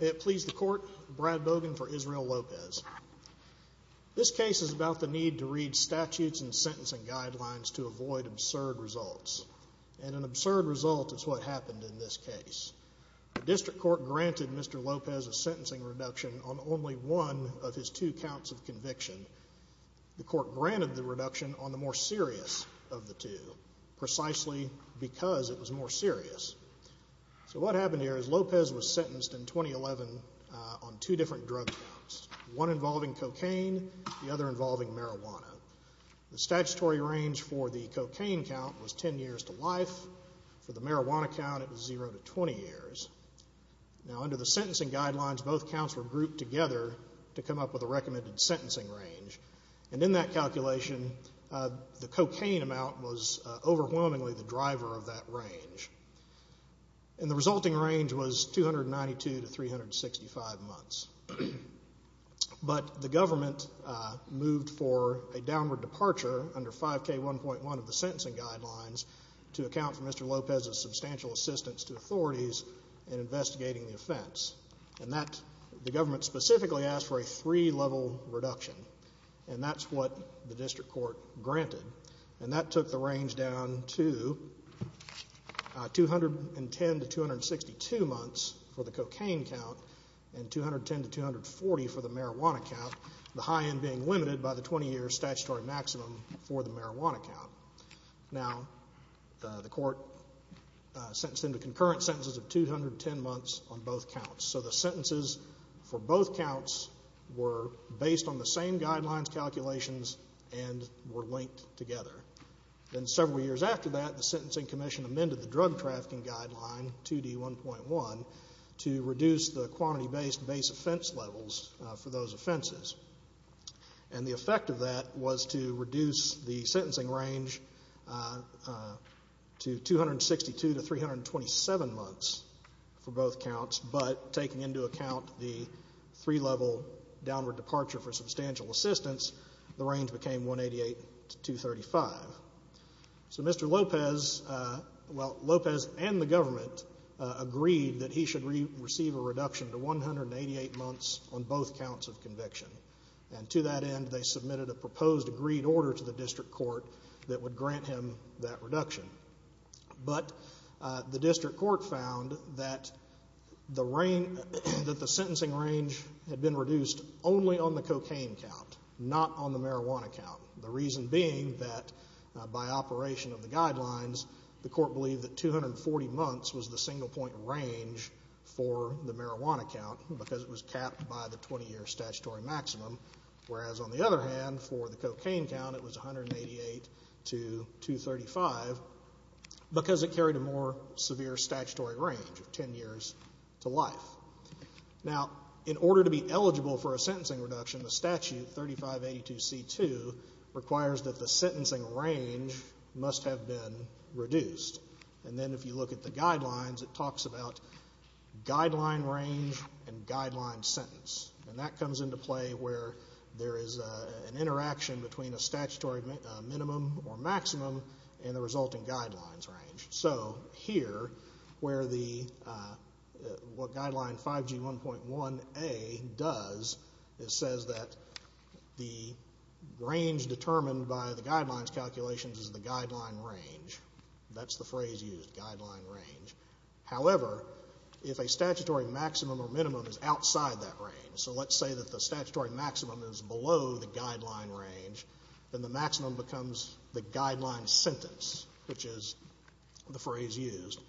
May it please the Court, Brad Bogan for Israel Lopez. This case is about the need to read statutes and sentencing guidelines to avoid absurd results. And an absurd result is what happened in this case. The District Court granted Mr. Lopez a sentencing reduction on only one of his two counts of conviction. The Court granted the reduction on the more serious of the two, precisely because it was more serious. So what happened here is Lopez was sentenced in 2011 on two different drug counts, one involving cocaine, the other involving marijuana. The statutory range for the cocaine count was 10 years to life. For the marijuana count, it was zero to 20 years. Now under the sentencing guidelines, both counts were grouped together to come up with a recommended sentencing range. And in that calculation, the cocaine amount was overwhelmingly the driver of that range. And the resulting range was 292 to 365 months. But the government moved for a downward departure under 5K1.1 of the sentencing guidelines to account for Mr. Lopez's substantial assistance to authorities in investigating the offense. And that, the government specifically asked for a three-level reduction. And that's what the District Court granted. And that took the range down to 210 to 262 months for the cocaine count and 210 to 240 for the marijuana count, the high end being limited by the 20-year statutory maximum for the marijuana count. Now, the court sentenced him to concurrent sentences of 210 months on both counts. So the sentences for both counts were based on the same guidelines calculations and were linked together. Then several years after that, the Sentencing Commission amended the Drug Trafficking Guideline 2D1.1 to reduce the quantity-based base offense levels for those offenses. And the effect of that was to reduce the sentencing range to 262 to 327 months for both counts. But taking into account the three-level downward departure for substantial assistance, the range became 188 to 235. So Mr. Lopez, well, Lopez and the government agreed that he should receive a reduction to 188 months on both counts of conviction. And to that end, they submitted a proposed agreed order to the District Court that would grant him that reduction. But the District Court found that the sentencing range had been reduced only on the cocaine count, not on the marijuana count. The reason being that by operation of the guidelines, the court believed that 240 months was the single-point range for the marijuana count because it was capped by the 20-year statutory maximum, whereas on the other hand, for the cocaine count, it was 188 to 235 because it carried a more severe statutory range of 10 years to life. Now, in order to be eligible for a sentencing reduction, the statute 3582C2 requires that the sentencing range must have been reduced. And then if you look at the guidelines, it talks about guideline range and guideline sentence. And that comes into play where there is an interaction between a statutory minimum or maximum and the resulting guidelines range. So here, where the, what Guideline 5G1.1A does, it says that the range determined by the guidelines calculations is the guideline range. That's the phrase used, guideline range. However, if a statutory maximum or minimum is outside that range, so let's say that the statutory maximum is below the guideline range, then the maximum becomes the guideline sentence, which is the phrase used.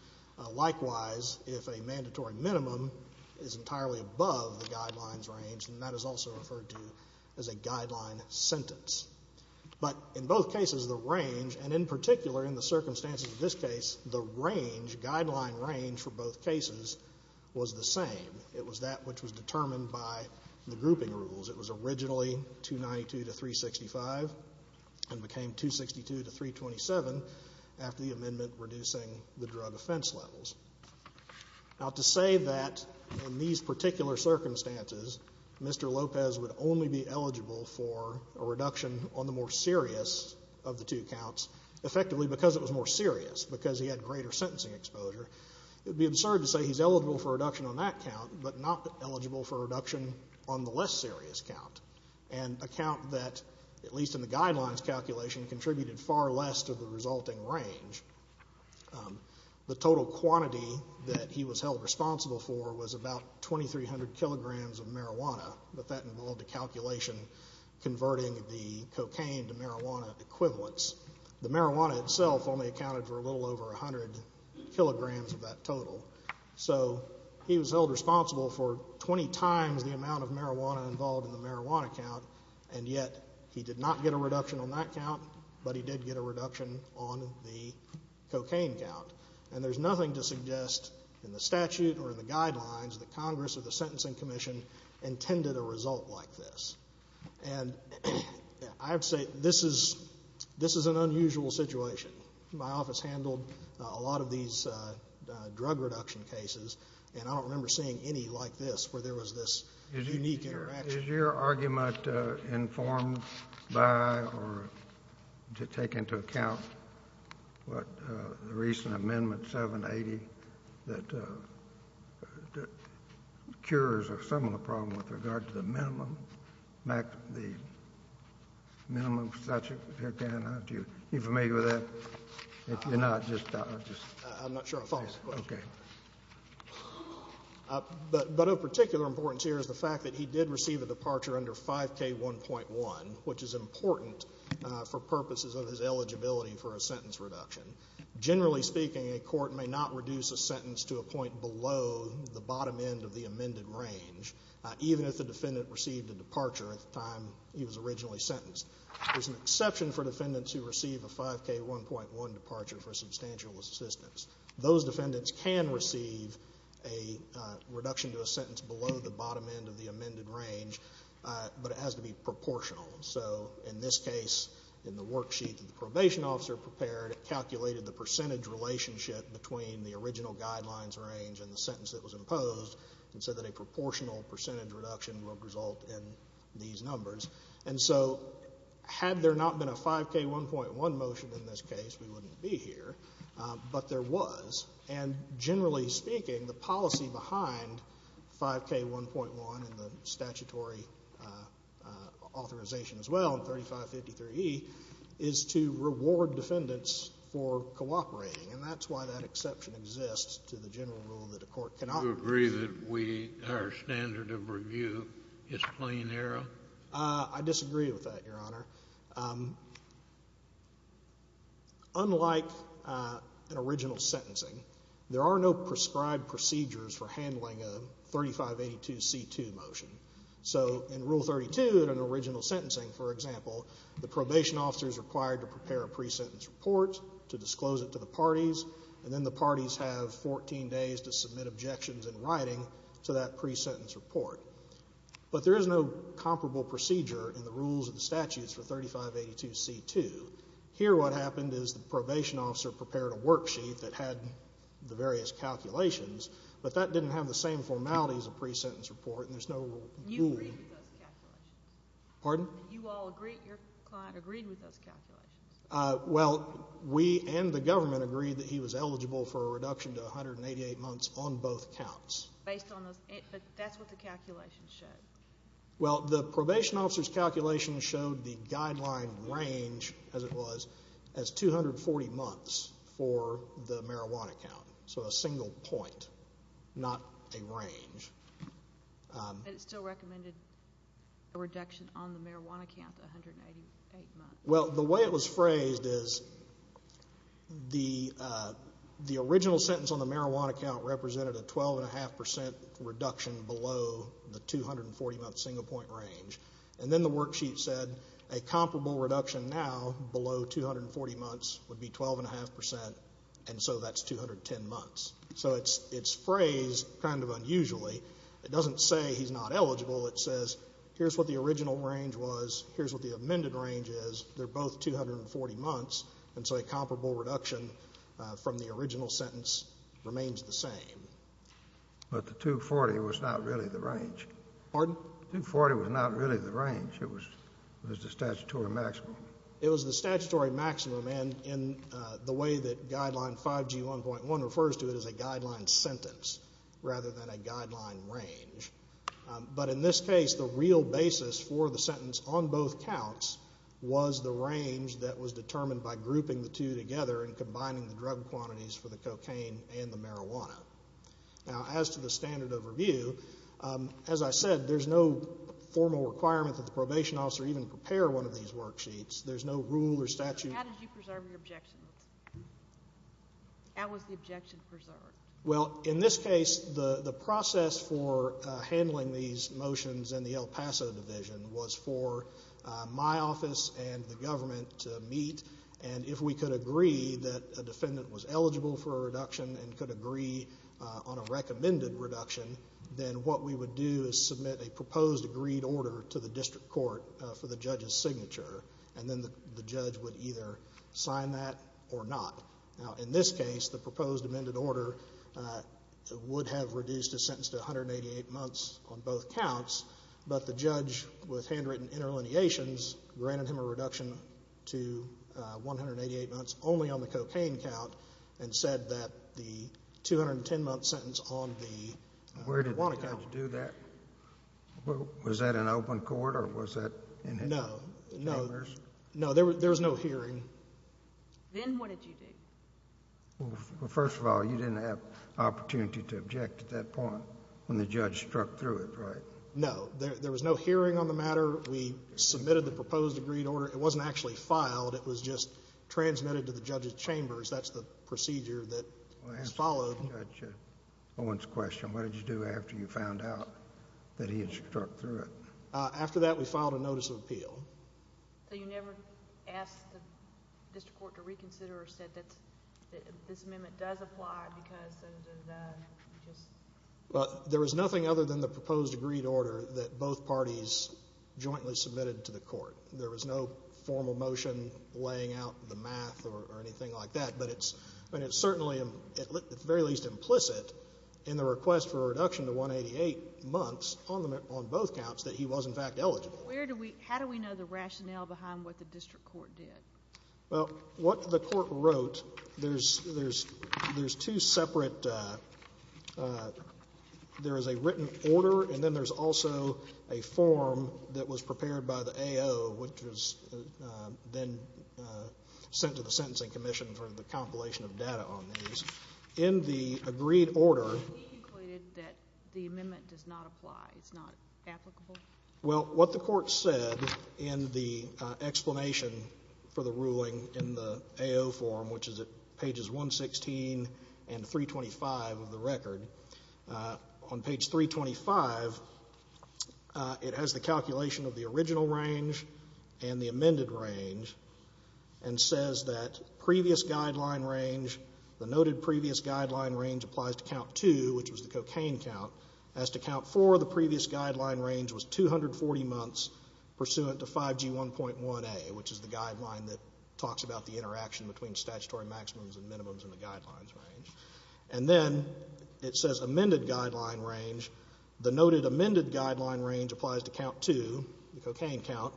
Likewise, if a mandatory minimum is entirely above the guidelines range, then that is also referred to as a guideline sentence. But in both cases, the range, and in particular in the circumstances of this case, the range, guideline range for both cases, was the same. It was that which was determined by the grouping rules. It was originally 292 to 365 and became 262 to 327 after the amendment reducing the drug offense levels. Now, to say that in these particular circumstances, Mr. Lopez would only be eligible for a reduction on the more serious of the two counts, effectively because it was more serious, because he had greater sentencing exposure, it would be absurd to say he's eligible for a reduction on that count, but not eligible for a reduction on the less serious count. And a count that, at least in the guidelines calculation, contributed far less to the resulting range. The total quantity that he was held responsible for was about 2,300 kilograms of converting the cocaine to marijuana equivalents. The marijuana itself only accounted for a little over 100 kilograms of that total. So he was held responsible for 20 times the amount of marijuana involved in the marijuana count, and yet he did not get a reduction on that count, but he did get a reduction on the cocaine count. And there's nothing to suggest in the statute or in the guidelines that Congress or the And I would say this is an unusual situation. My office handled a lot of these drug reduction cases, and I don't remember seeing any like this where there was this unique interaction. Is your argument informed by or to take into account what the recent Amendment 780 that cures a similar problem with regard to the minimum statute? Are you familiar with that? I'm not sure I follow this question. Okay. But of particular importance here is the fact that he did receive a departure under 5K1.1, which is important for purposes of his eligibility for a sentence reduction. Generally speaking, a court may not reduce a sentence to a point below the bottom end of the amended range, even if the defendant received a departure at the time he was originally sentenced. There's an exception for defendants who receive a 5K1.1 departure for substantial assistance. Those defendants can receive a reduction to a sentence below the bottom end of the amended range, but it has to be proportional. So in this case, in the worksheet that the probation officer prepared, it calculated the percentage relationship between the original guidelines range and the sentence that was imposed and said that a proportional percentage reduction will result in these numbers. And so had there not been a 5K1.1 motion in this case, we wouldn't be here. But there was. And generally speaking, the policy behind 5K1.1 and the statutory authorization as well in 3553e is to reward defendants for cooperating, and that's why that exception exists to the general rule that a court cannot. Do you agree that we, our standard of review is plain error? I disagree with that, Your Honor. Unlike an original sentencing, there are no prescribed procedures for handling a 3582c2 motion. So in Rule 32 in an original sentencing, for example, the probation officer is required to prepare a pre-sentence report to disclose it to the parties, and then the parties have 14 days to submit objections in writing to that pre-sentence report. But there is no comparable procedure in the rules and statutes for 3582c2. Here what happened is the probation officer prepared a worksheet that had the various calculations, but that didn't have the same formality as a pre-sentence report, and there's no rule. You agreed with those calculations. Pardon? You all agreed, your client agreed with those calculations. Well, we and the government agreed that he was eligible for a reduction to 188 months on both counts. Based on those, but that's what the calculations showed. Well, the probation officer's calculations showed the guideline range, as it was, as 240 months for the marijuana count, so a single point, not a range. But it still recommended a reduction on the marijuana count to 188 months. Well, the way it was phrased is the original sentence on the marijuana count represented a 12.5% reduction below the 240-month single point range. And then the worksheet said a comparable reduction now below 240 months would be 12.5%, and so that's 210 months. So it's phrased kind of unusually. It doesn't say he's not eligible. It says here's what the original range was, here's what the amended range is. They're both 240 months, and so a comparable reduction from the original sentence remains the same. But the 240 was not really the range. Pardon? The 240 was not really the range. It was the statutory maximum. It was the statutory maximum, and the way that Guideline 5G1.1 refers to it as a guideline sentence rather than a guideline range. But in this case, the real basis for the sentence on both counts was the range that was determined by grouping the two together and combining the drug quantities for the cocaine and the marijuana. Now, as to the standard of review, as I said, there's no formal requirement that the probation officer even prepare one of these worksheets. There's no rule or statute. How did you preserve your objections? How was the objection preserved? Well, in this case, the process for handling these motions in the El Paso Division was for my office and the government to meet, and if we could agree that a defendant was eligible for a reduction and could agree on a recommended reduction, then what we would do is submit a proposed agreed order to the district court for the judge's signature, and then the judge would either sign that or not. Now, in this case, the proposed amended order would have reduced the sentence to 188 months on both counts, but the judge, with handwritten interlineations, granted him a reduction to 188 months only on the cocaine count and said that the 210-month sentence on the marijuana count. Where did the judge do that? Was that in open court, or was that in him? No. No. No, there was no hearing. Then what did you do? Well, first of all, you didn't have opportunity to object at that point when the judge struck through it, right? No. There was no hearing on the matter. We submitted the proposed agreed order. It wasn't actually filed. It was just transmitted to the judge's chambers. That's the procedure that was followed. I want to ask Judge Owen's question. What did you do after you found out that he had struck through it? After that, we filed a notice of appeal. So you never asked the district court to reconsider or said that this amendment does apply because of the just ---- There was nothing other than the proposed agreed order that both parties jointly submitted to the court. There was no formal motion laying out the math or anything like that, but it's certainly at the very least implicit in the request for a reduction to 188 months on both counts that he was in fact eligible. How do we know the rationale behind what the district court did? Well, what the court wrote, there's two separate ---- there is a written order and then there's also a form that was prepared by the AO, which was then sent to the Sentencing Commission for the compilation of data on these. In the agreed order ---- He concluded that the amendment does not apply, it's not applicable? Well, what the court said in the explanation for the ruling in the AO form, which is at pages 116 and 325 of the record, on page 325, it has the calculation of the original range and the amended range and says that previous guideline range, the noted previous guideline range applies to count 2, which was the cocaine count. As to count 4, the previous guideline range was 240 months pursuant to 5G1.1a, which is the guideline that talks about the interaction between statutory maximums and minimums in the guidelines range. And then it says amended guideline range, the noted amended guideline range applies to count 2, the cocaine count.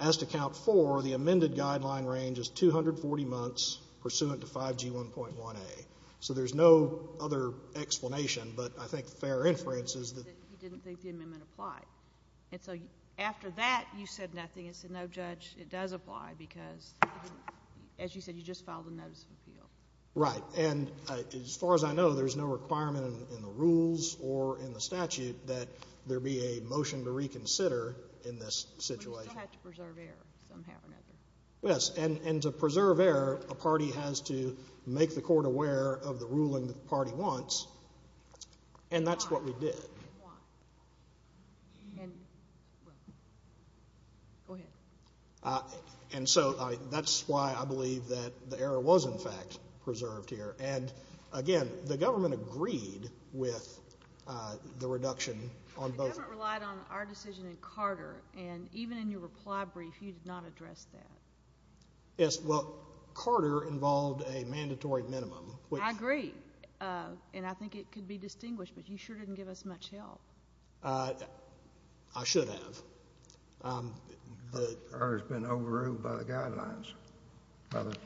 As to count 4, the amended guideline range is 240 months pursuant to 5G1.1a. So there's no other explanation, but I think fair inference is that ---- You didn't think the amendment applied. And so after that, you said nothing and said, no, Judge, it does apply because, as you said, you just filed a notice of appeal. Right. And as far as I know, there's no requirement in the rules or in the statute that there be a motion to reconsider in this situation. But you still have to preserve error somehow or another. Yes. And to preserve error, a party has to make the court aware of the ruling the party wants. And that's what we did. And why? Go ahead. And so that's why I believe that the error was, in fact, preserved here. And, again, the government agreed with the reduction on both. The government relied on our decision and Carter. And even in your reply brief, you did not address that. Yes. Well, Carter involved a mandatory minimum, which ---- I agree. And I think it could be distinguished, but you sure didn't give us much help. I should have. The error has been overruled by the guidelines, by the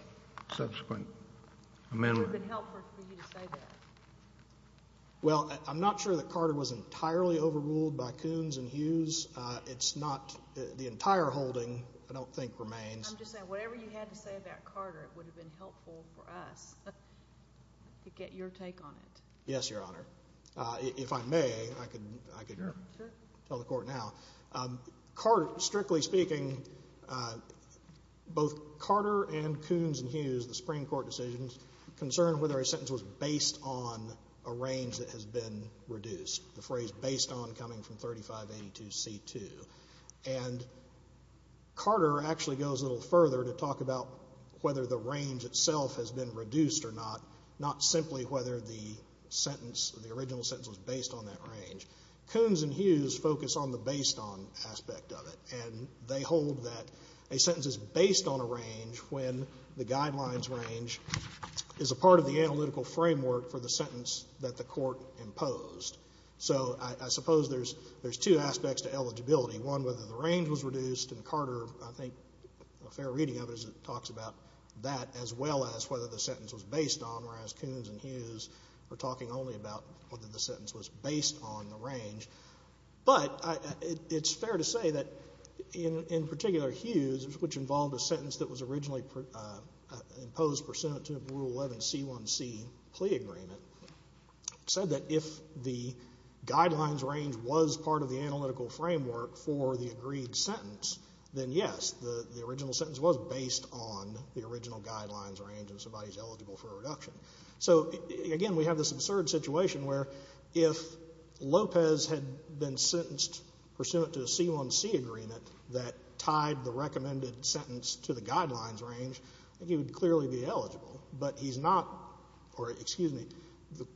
subsequent amendment. It would have been helpful for you to say that. Well, I'm not sure that Carter was entirely overruled by Coons and Hughes. It's not the entire holding, I don't think, remains. I'm just saying, whatever you had to say about Carter, it would have been helpful for us to get your take on it. Yes, Your Honor. If I may, I could tell the court now. Strictly speaking, both Carter and Coons and Hughes, the Supreme Court decisions, concerned whether a sentence was based on a range that has been reduced, the phrase based on coming from 3582C2. And Carter actually goes a little further to talk about whether the range itself has been reduced or not, not simply whether the sentence, the original sentence, was based on that range. Coons and Hughes focus on the based on aspect of it, and they hold that a sentence is based on a range when the guidelines range is a part of the analytical framework for the sentence that the court imposed. So I suppose there's two aspects to eligibility. One, whether the range was reduced, and Carter, I think, a fair reading of it, talks about that as well as whether the sentence was based on, whereas Coons and Hughes are talking only about whether the sentence was based on the range. But it's fair to say that, in particular, Hughes, which involved a sentence that was originally imposed pursuant to Rule 11C1C, plea agreement, said that if the guidelines range was part of the analytical framework for the agreed sentence, then, yes, the original sentence was based on the original guidelines range and somebody's eligible for a reduction. So, again, we have this absurd situation where if Lopez had been sentenced pursuant to a C1C agreement that tied the recommended sentence to the guidelines range, I think he would clearly be eligible. But he's not or, excuse me, the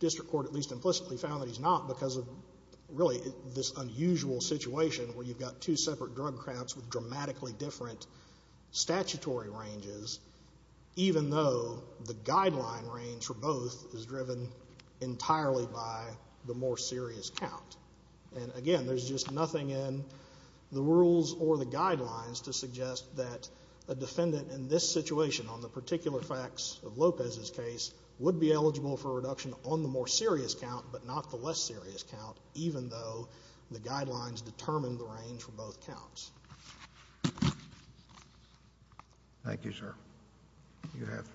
district court at least implicitly found that he's not because of really this unusual situation where you've got two separate drug counts with dramatically different statutory ranges, even though the guideline range for both is driven entirely by the more serious count. And, again, there's just nothing in the rules or the guidelines to suggest that a defendant in this situation, on the particular facts of Lopez's case, would be eligible for a reduction on the more serious count but not the less serious count, even though the guidelines determine the range for both counts. Thank you, sir. You have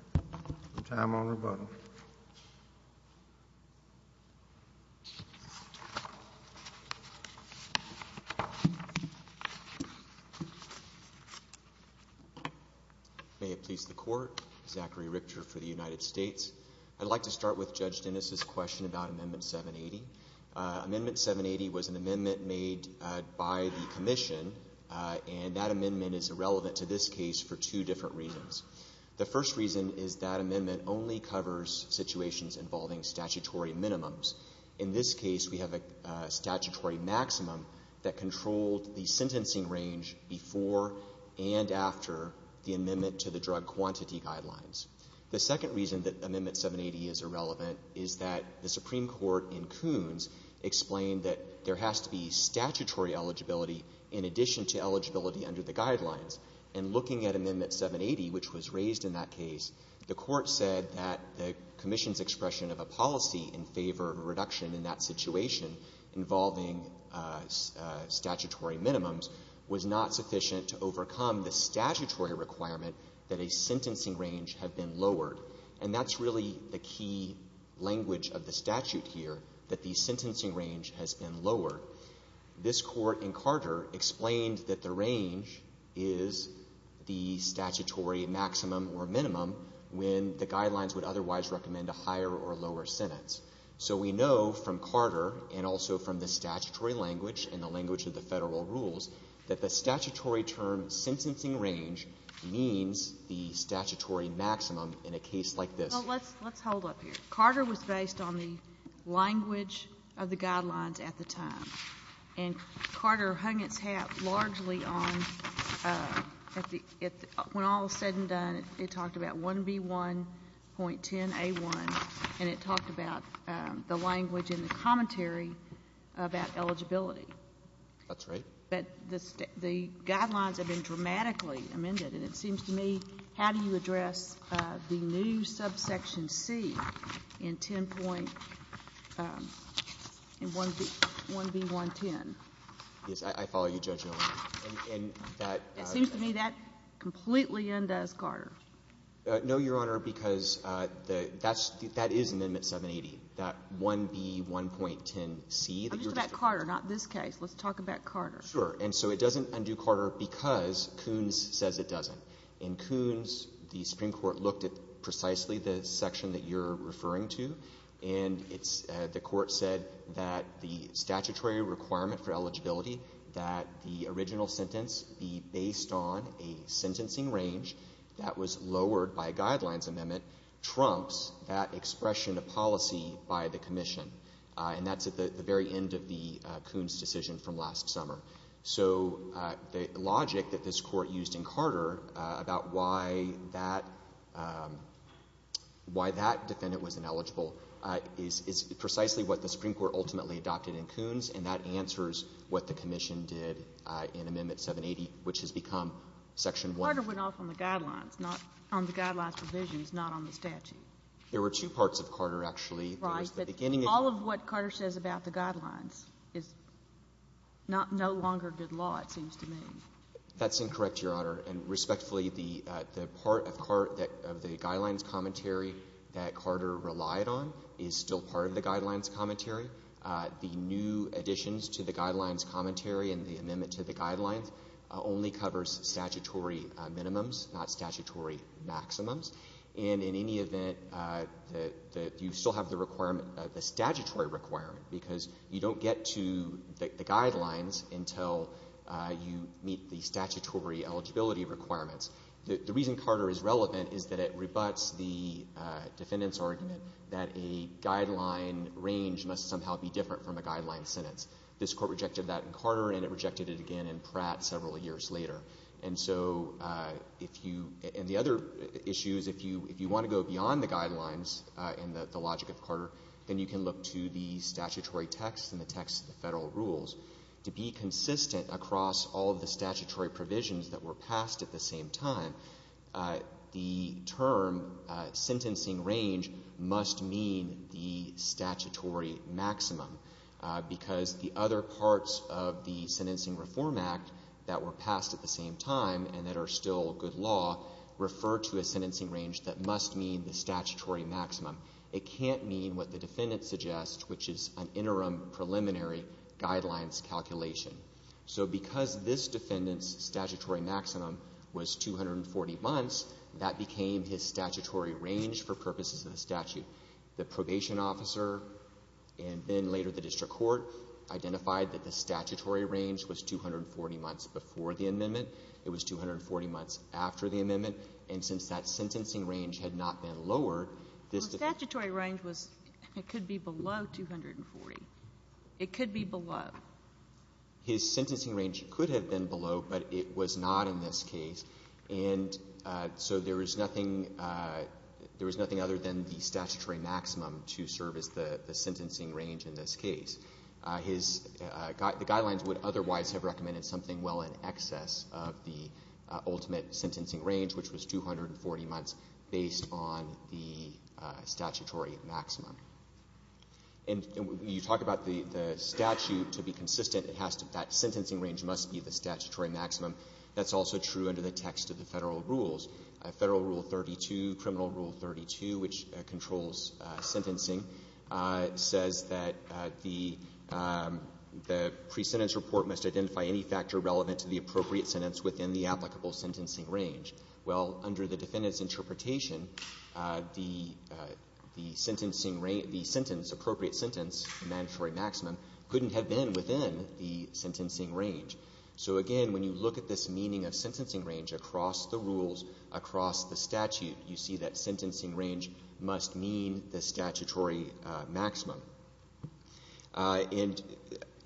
time on rebuttal. May it please the Court. Zachary Richter for the United States. I'd like to start with Judge Dennis's question about Amendment 780. Amendment 780 was an amendment made by the Commission, and that amendment is irrelevant to this case for two different reasons. The first reason is that amendment only covers situations involving statutory minimums. In this case, we have a statutory maximum that controlled the sentencing range before and after the amendment to the drug quantity guidelines. The second reason that Amendment 780 is irrelevant is that the Supreme Court in Coons explained that there has to be statutory eligibility in addition to eligibility under the guidelines. And looking at Amendment 780, which was raised in that case, the Court said that the Commission's expression of a policy in favor of a reduction in that situation involving statutory minimums was not sufficient to overcome the statutory requirement that a sentencing range had been lowered. And that's really the key language of the statute here, that the sentencing range has been lowered. This Court in Carter explained that the range is the statutory maximum or minimum when the guidelines would otherwise recommend a higher or lower sentence. So we know from Carter and also from the statutory language and the language of the Federal rules that the statutory term sentencing range means the statutory maximum in a case like this. Well, let's hold up here. Carter was based on the language of the guidelines at the time. And Carter hung its hat largely on, when all is said and done, it talked about 1B1.10a1, and it talked about the language in the commentary about eligibility. That's right. But the guidelines have been dramatically amended. And it seems to me, how do you address the new subsection C in 10.1B110? Yes. I follow you, Judge Gilliam. And that seems to me that completely undoes Carter. No, Your Honor, because that is Amendment 780, that 1B1.10c. I'm talking about Carter, not this case. Let's talk about Carter. Sure. And so it doesn't undo Carter because Koons says it doesn't. In Koons, the Supreme Court looked at precisely the section that you're referring to, and it's the court said that the statutory requirement for eligibility, that the original sentence be based on a sentencing range that was lowered by a guidelines amendment, trumps that expression of policy by the Commission. And that's at the very end of the Koons decision from last summer. So the logic that this Court used in Carter about why that defendant was ineligible is precisely what the Supreme Court ultimately adopted in Koons, and that answers what the Commission did in Amendment 780, which has become section 1. Carter went off on the guidelines, not on the guidelines provisions, not on the statute. There were two parts of Carter, actually. Right. All of what Carter says about the guidelines is no longer good law, it seems to me. That's incorrect, Your Honor. And respectfully, the part of the guidelines commentary that Carter relied on is still part of the guidelines commentary. The new additions to the guidelines commentary and the amendment to the guidelines only covers statutory minimums, not statutory maximums. And in any event, you still have the requirement, the statutory requirement, because you don't get to the guidelines until you meet the statutory eligibility requirements. The reason Carter is relevant is that it rebuts the defendant's argument that a guideline range must somehow be different from a guideline sentence. This Court rejected that in Carter, and it rejected it again in Pratt several years later. And so if you — and the other issue is if you want to go beyond the guidelines and the logic of Carter, then you can look to the statutory text and the text of the Federal rules. To be consistent across all of the statutory provisions that were passed at the same time, the term sentencing range must mean the statutory maximum, because the other parts of the Sentencing Reform Act that were passed at the same time and that are still good law refer to a sentencing range that must mean the statutory maximum. It can't mean what the defendant suggests, which is an interim preliminary guidelines calculation. So because this defendant's statutory maximum was 240 months, that became his statutory range for purposes of the statute. The probation officer and then later the district court identified that the statutory range was 240 months before the amendment. It was 240 months after the amendment. And since that sentencing range had not been lowered, this defendant — Well, statutory range was — it could be below 240. It could be below. His sentencing range could have been below, but it was not in this case. And so there is nothing — there is nothing other than the statutory maximum to serve as the sentencing range in this case. His — the guidelines would otherwise have recommended something well in excess of the ultimate sentencing range, which was 240 months, based on the statutory maximum. And when you talk about the statute, to be consistent, it has to — that sentencing range must be the statutory maximum. That's also true under the text of the Federal rules. Federal Rule 32, Criminal Rule 32, which controls sentencing, says that the pre-sentence report must identify any factor relevant to the appropriate sentence within the applicable sentencing range. Well, under the defendant's interpretation, the sentencing — the sentence, appropriate sentence, the mandatory maximum, couldn't have been within the sentencing range. So, again, when you look at this meaning of sentencing range across the rules, across the statute, you see that sentencing range must mean the statutory maximum. And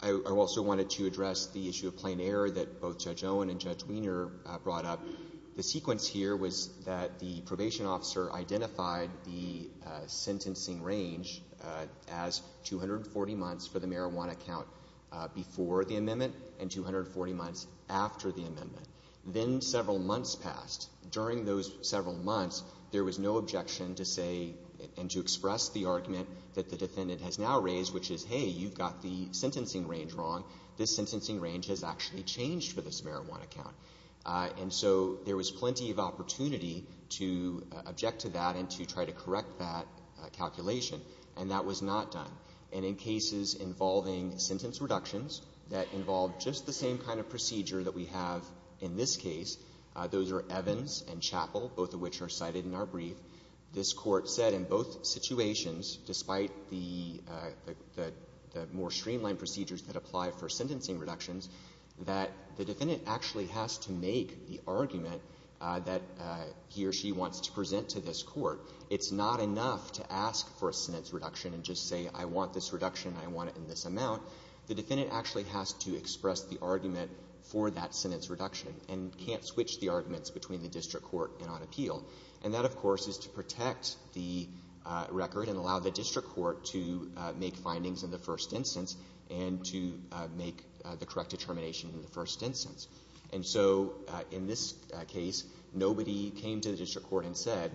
I also wanted to address the issue of plain error that both Judge Owen and Judge Wiener brought up. The sequence here was that the probation officer identified the sentencing range as 240 months for the marijuana count before the amendment and 240 months after the amendment. Then several months passed. During those several months, there was no objection to say and to express the argument that the defendant has now raised, which is, hey, you've got the sentencing range wrong. This sentencing range has actually changed for this marijuana count. And so there was plenty of opportunity to object to that and to try to correct that calculation. And that was not done. And in cases involving sentence reductions that involve just the same kind of procedure that we have in this case, those are Evans and Chappell, both of which are cited in our brief. This Court said in both situations, despite the more streamlined procedures that apply for sentencing reductions, that the defendant actually has to make the argument that he or she wants to present to this Court. It's not enough to ask for a sentence reduction and just say, I want this reduction and I want it in this amount. The defendant actually has to express the argument for that sentence reduction and can't switch the arguments between the district court and on appeal. And that, of course, is to protect the record and allow the district court to make findings in the first instance and to make the correct determination in the first instance. And so in this case, nobody came to the district court and said,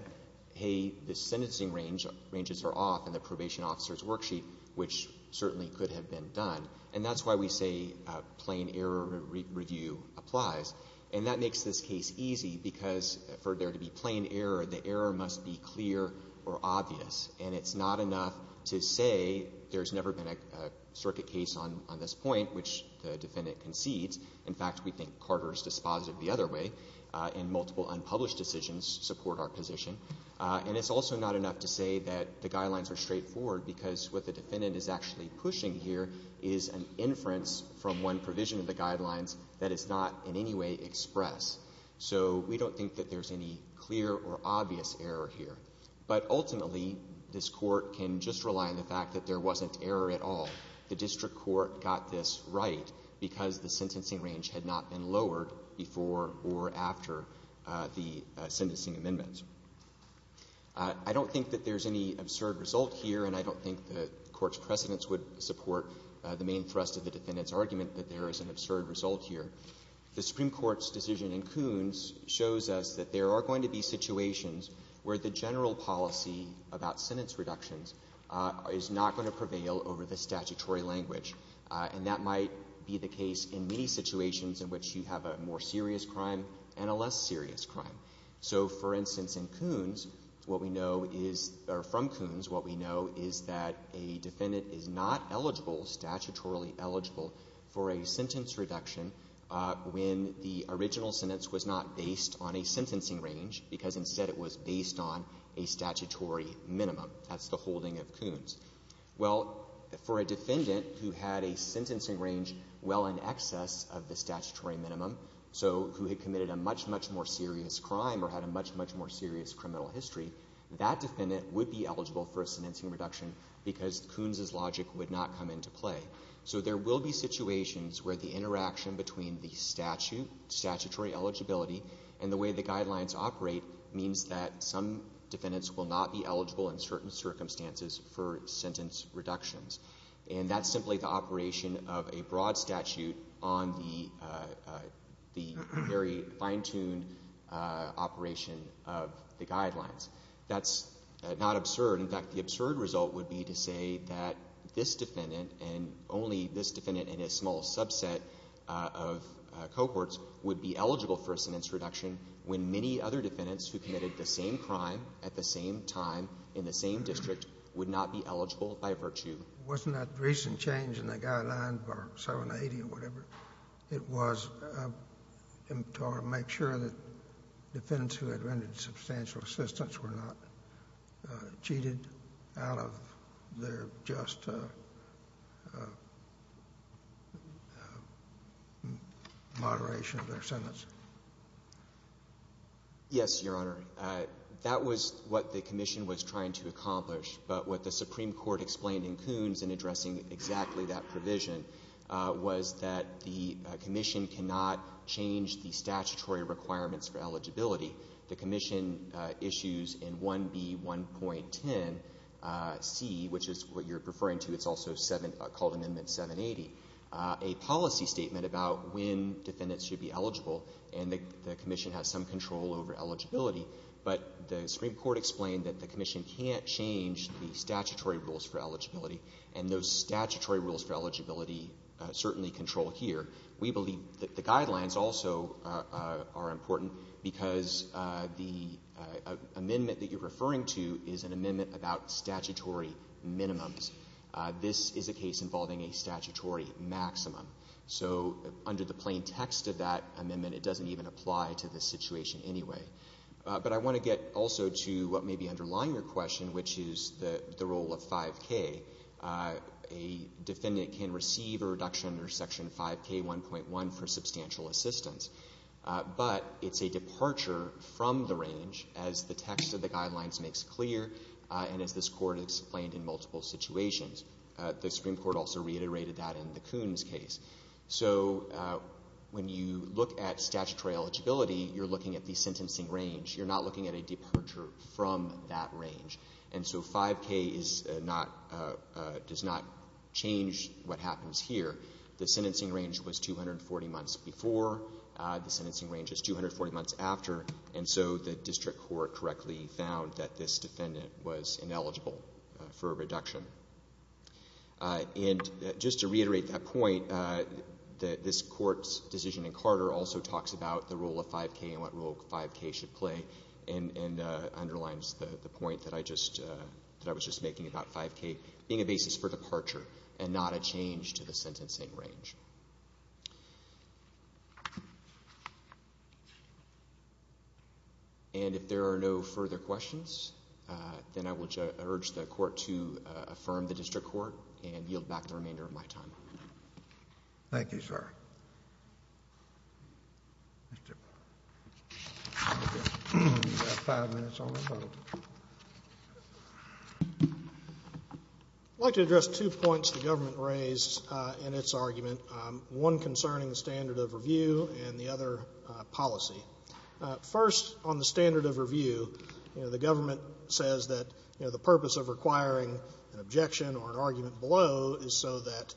hey, the sentencing ranges are off in the probation officer's worksheet, which certainly could have been done. And that's why we say plain error review applies. And that makes this case easy because for there to be plain error, the error must be clear or obvious. And it's not enough to say there's never been a circuit case on this point, which the defendant concedes. In fact, we think Carter's dispositive the other way, and multiple unpublished decisions support our position. And it's also not enough to say that the guidelines are straightforward because what the defendant is actually pushing here is an inference from one provision of the guidelines that is not in any way expressed. So we don't think that there's any clear or obvious error here. But ultimately, this Court can just rely on the fact that there wasn't error at all. The district court got this right because the sentencing range had not been lowered before or after the sentencing amendments. I don't think that there's any absurd result here, and I don't think the Court's precedents would support the main thrust of the defendant's argument that there is an absurd result here. The Supreme Court's decision in Kunz shows us that there are going to be situations where the general policy about sentence reductions is not going to prevail over the statutory language. And that might be the case in many situations in which you have a more serious crime and a less serious crime. So, for instance, in Kunz, what we know is or from Kunz, what we know is that a defendant is not eligible, statutorily eligible, for a sentence reduction when the original sentence was not based on a sentencing range, because instead it was based on a statutory minimum. That's the holding of Kunz. Well, for a defendant who had a sentencing range well in excess of the statutory minimum, so who had committed a much, much more serious crime or had a much, much more serious criminal history, that defendant would be eligible for a sentencing reduction because Kunz's logic would not come into play. So there will be situations where the interaction between the statute, statutory eligibility, and the way the guidelines operate means that some defendants will not be eligible in certain circumstances for sentence reductions. And that's simply the operation of a broad statute on the very fine-tuned operation of the guidelines. That's not absurd. In fact, the absurd result would be to say that this defendant and only this defendant in a small subset of cohorts would be eligible for a sentence reduction when many other defendants who committed the same crime at the same time in the same district would not be eligible by virtue. It wasn't that recent change in the guidelines of our 780 or whatever. It was to make sure that defendants who had rendered substantial assistance were not cheated out of their just moderation of their sentence. Yes, Your Honor. That was what the Commission was trying to accomplish. But what the Supreme Court explained in Kunz in addressing exactly that provision was that the Commission cannot change the statutory requirements for eligibility. The Commission issues in 1B.1.10c, which is what you're referring to, it's also called Amendment 780, a policy statement about when defendants should be eligible and the Commission has some control over eligibility. But the Supreme Court explained that the Commission can't change the statutory rules for eligibility, and those statutory rules for eligibility certainly control here. We believe that the guidelines also are important because the amendment that you're referring to is an amendment about statutory minimums. This is a case involving a statutory maximum. So under the plain text of that amendment, it doesn't even apply to this situation anyway. But I want to get also to what may be underlying your question, which is the role of 5K. A defendant can receive a reduction under Section 5K1.1 for substantial assistance. But it's a departure from the range, as the text of the guidelines makes clear and as this Court explained in multiple situations. The Supreme Court also reiterated that in the Coons case. So when you look at statutory eligibility, you're looking at the sentencing range. You're not looking at a departure from that range. And so 5K does not change what happens here. The sentencing range was 240 months before. The sentencing range is 240 months after. And so the district court correctly found that this defendant was ineligible for a reduction. And just to reiterate that point, this Court's decision in Carter also talks about the role of 5K and what role 5K should play, and underlines the point that I was just making about 5K being a basis for departure and not a change to the sentencing range. And if there are no further questions, then I would urge the Court to affirm the district court and yield back the remainder of my time. Thank you, sir. You have five minutes on the vote. I'd like to address two points the government raised in its argument about the standard of review and the other policy. First, on the standard of review, the government says that the purpose of requiring an objection or an argument below is so that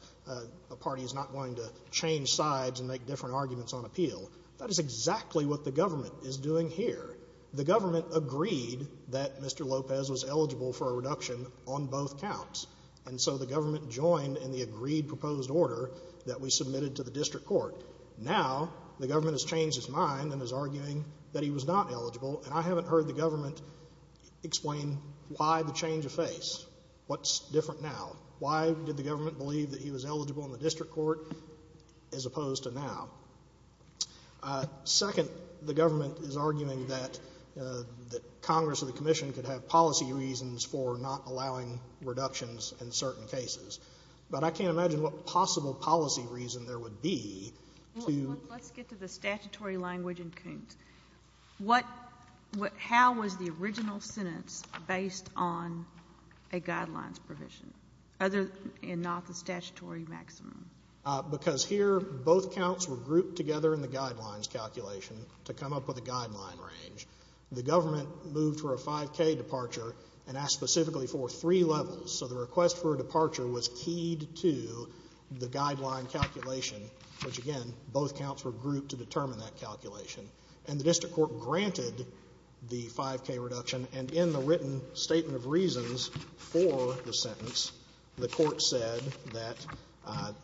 a party is not going to change sides and make different arguments on appeal. That is exactly what the government is doing here. The government agreed that Mr. Lopez was eligible for a reduction on both counts. And so the government joined in the agreed proposed order that we submitted to the district court. Now, the government has changed its mind and is arguing that he was not eligible, and I haven't heard the government explain why the change of face, what's different now. Why did the government believe that he was eligible in the district court as opposed to now? Second, the government is arguing that Congress or the Commission could have policy reasons for not allowing reductions in certain cases. But I can't imagine what possible policy reason there would be to ---- Let's get to the statutory language in Koontz. What ---- how was the original sentence based on a Guidelines provision, other than not the statutory maximum? Because here both counts were grouped together in the Guidelines calculation to come up with a Guideline range. The government moved for a 5K departure and asked specifically for three levels. So the request for a departure was keyed to the Guideline calculation, which, again, both counts were grouped to determine that calculation. And the district court granted the 5K reduction. And in the written statement of reasons for the sentence, the court said that the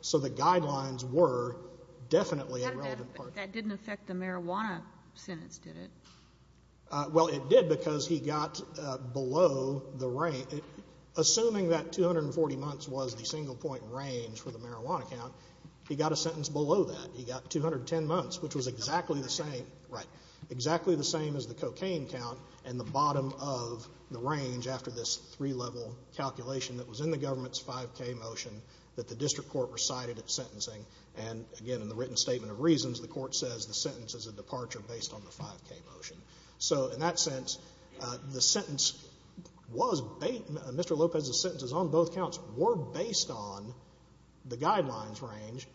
So the Guidelines were definitely a relevant part of it. But that didn't affect the marijuana sentence, did it? Well, it did because he got below the range. Assuming that 240 months was the single-point range for the marijuana count, he got a sentence below that. He got 210 months, which was exactly the same. Right. Exactly the same as the cocaine count and the bottom of the range after this three-level calculation that was in the government's 5K motion that the district court recited at sentencing. And, again, in the written statement of reasons, the court says the sentence is a departure based on the 5K motion. So in that sense, Mr. Lopez's sentences on both counts were based on the Guidelines range,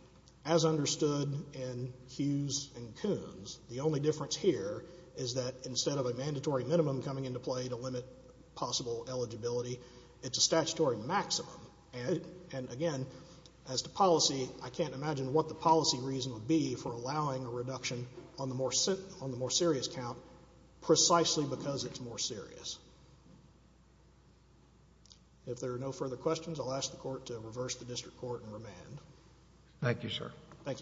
as understood in Hughes and Coons. The only difference here is that instead of a mandatory minimum coming into play to limit possible eligibility, it's a statutory maximum. And, again, as to policy, I can't imagine what the policy reason would be for allowing a reduction on the more serious count precisely because it's more serious. If there are no further questions, I'll ask the Court to reverse the district court and remand. Thank you, sir. Thank you.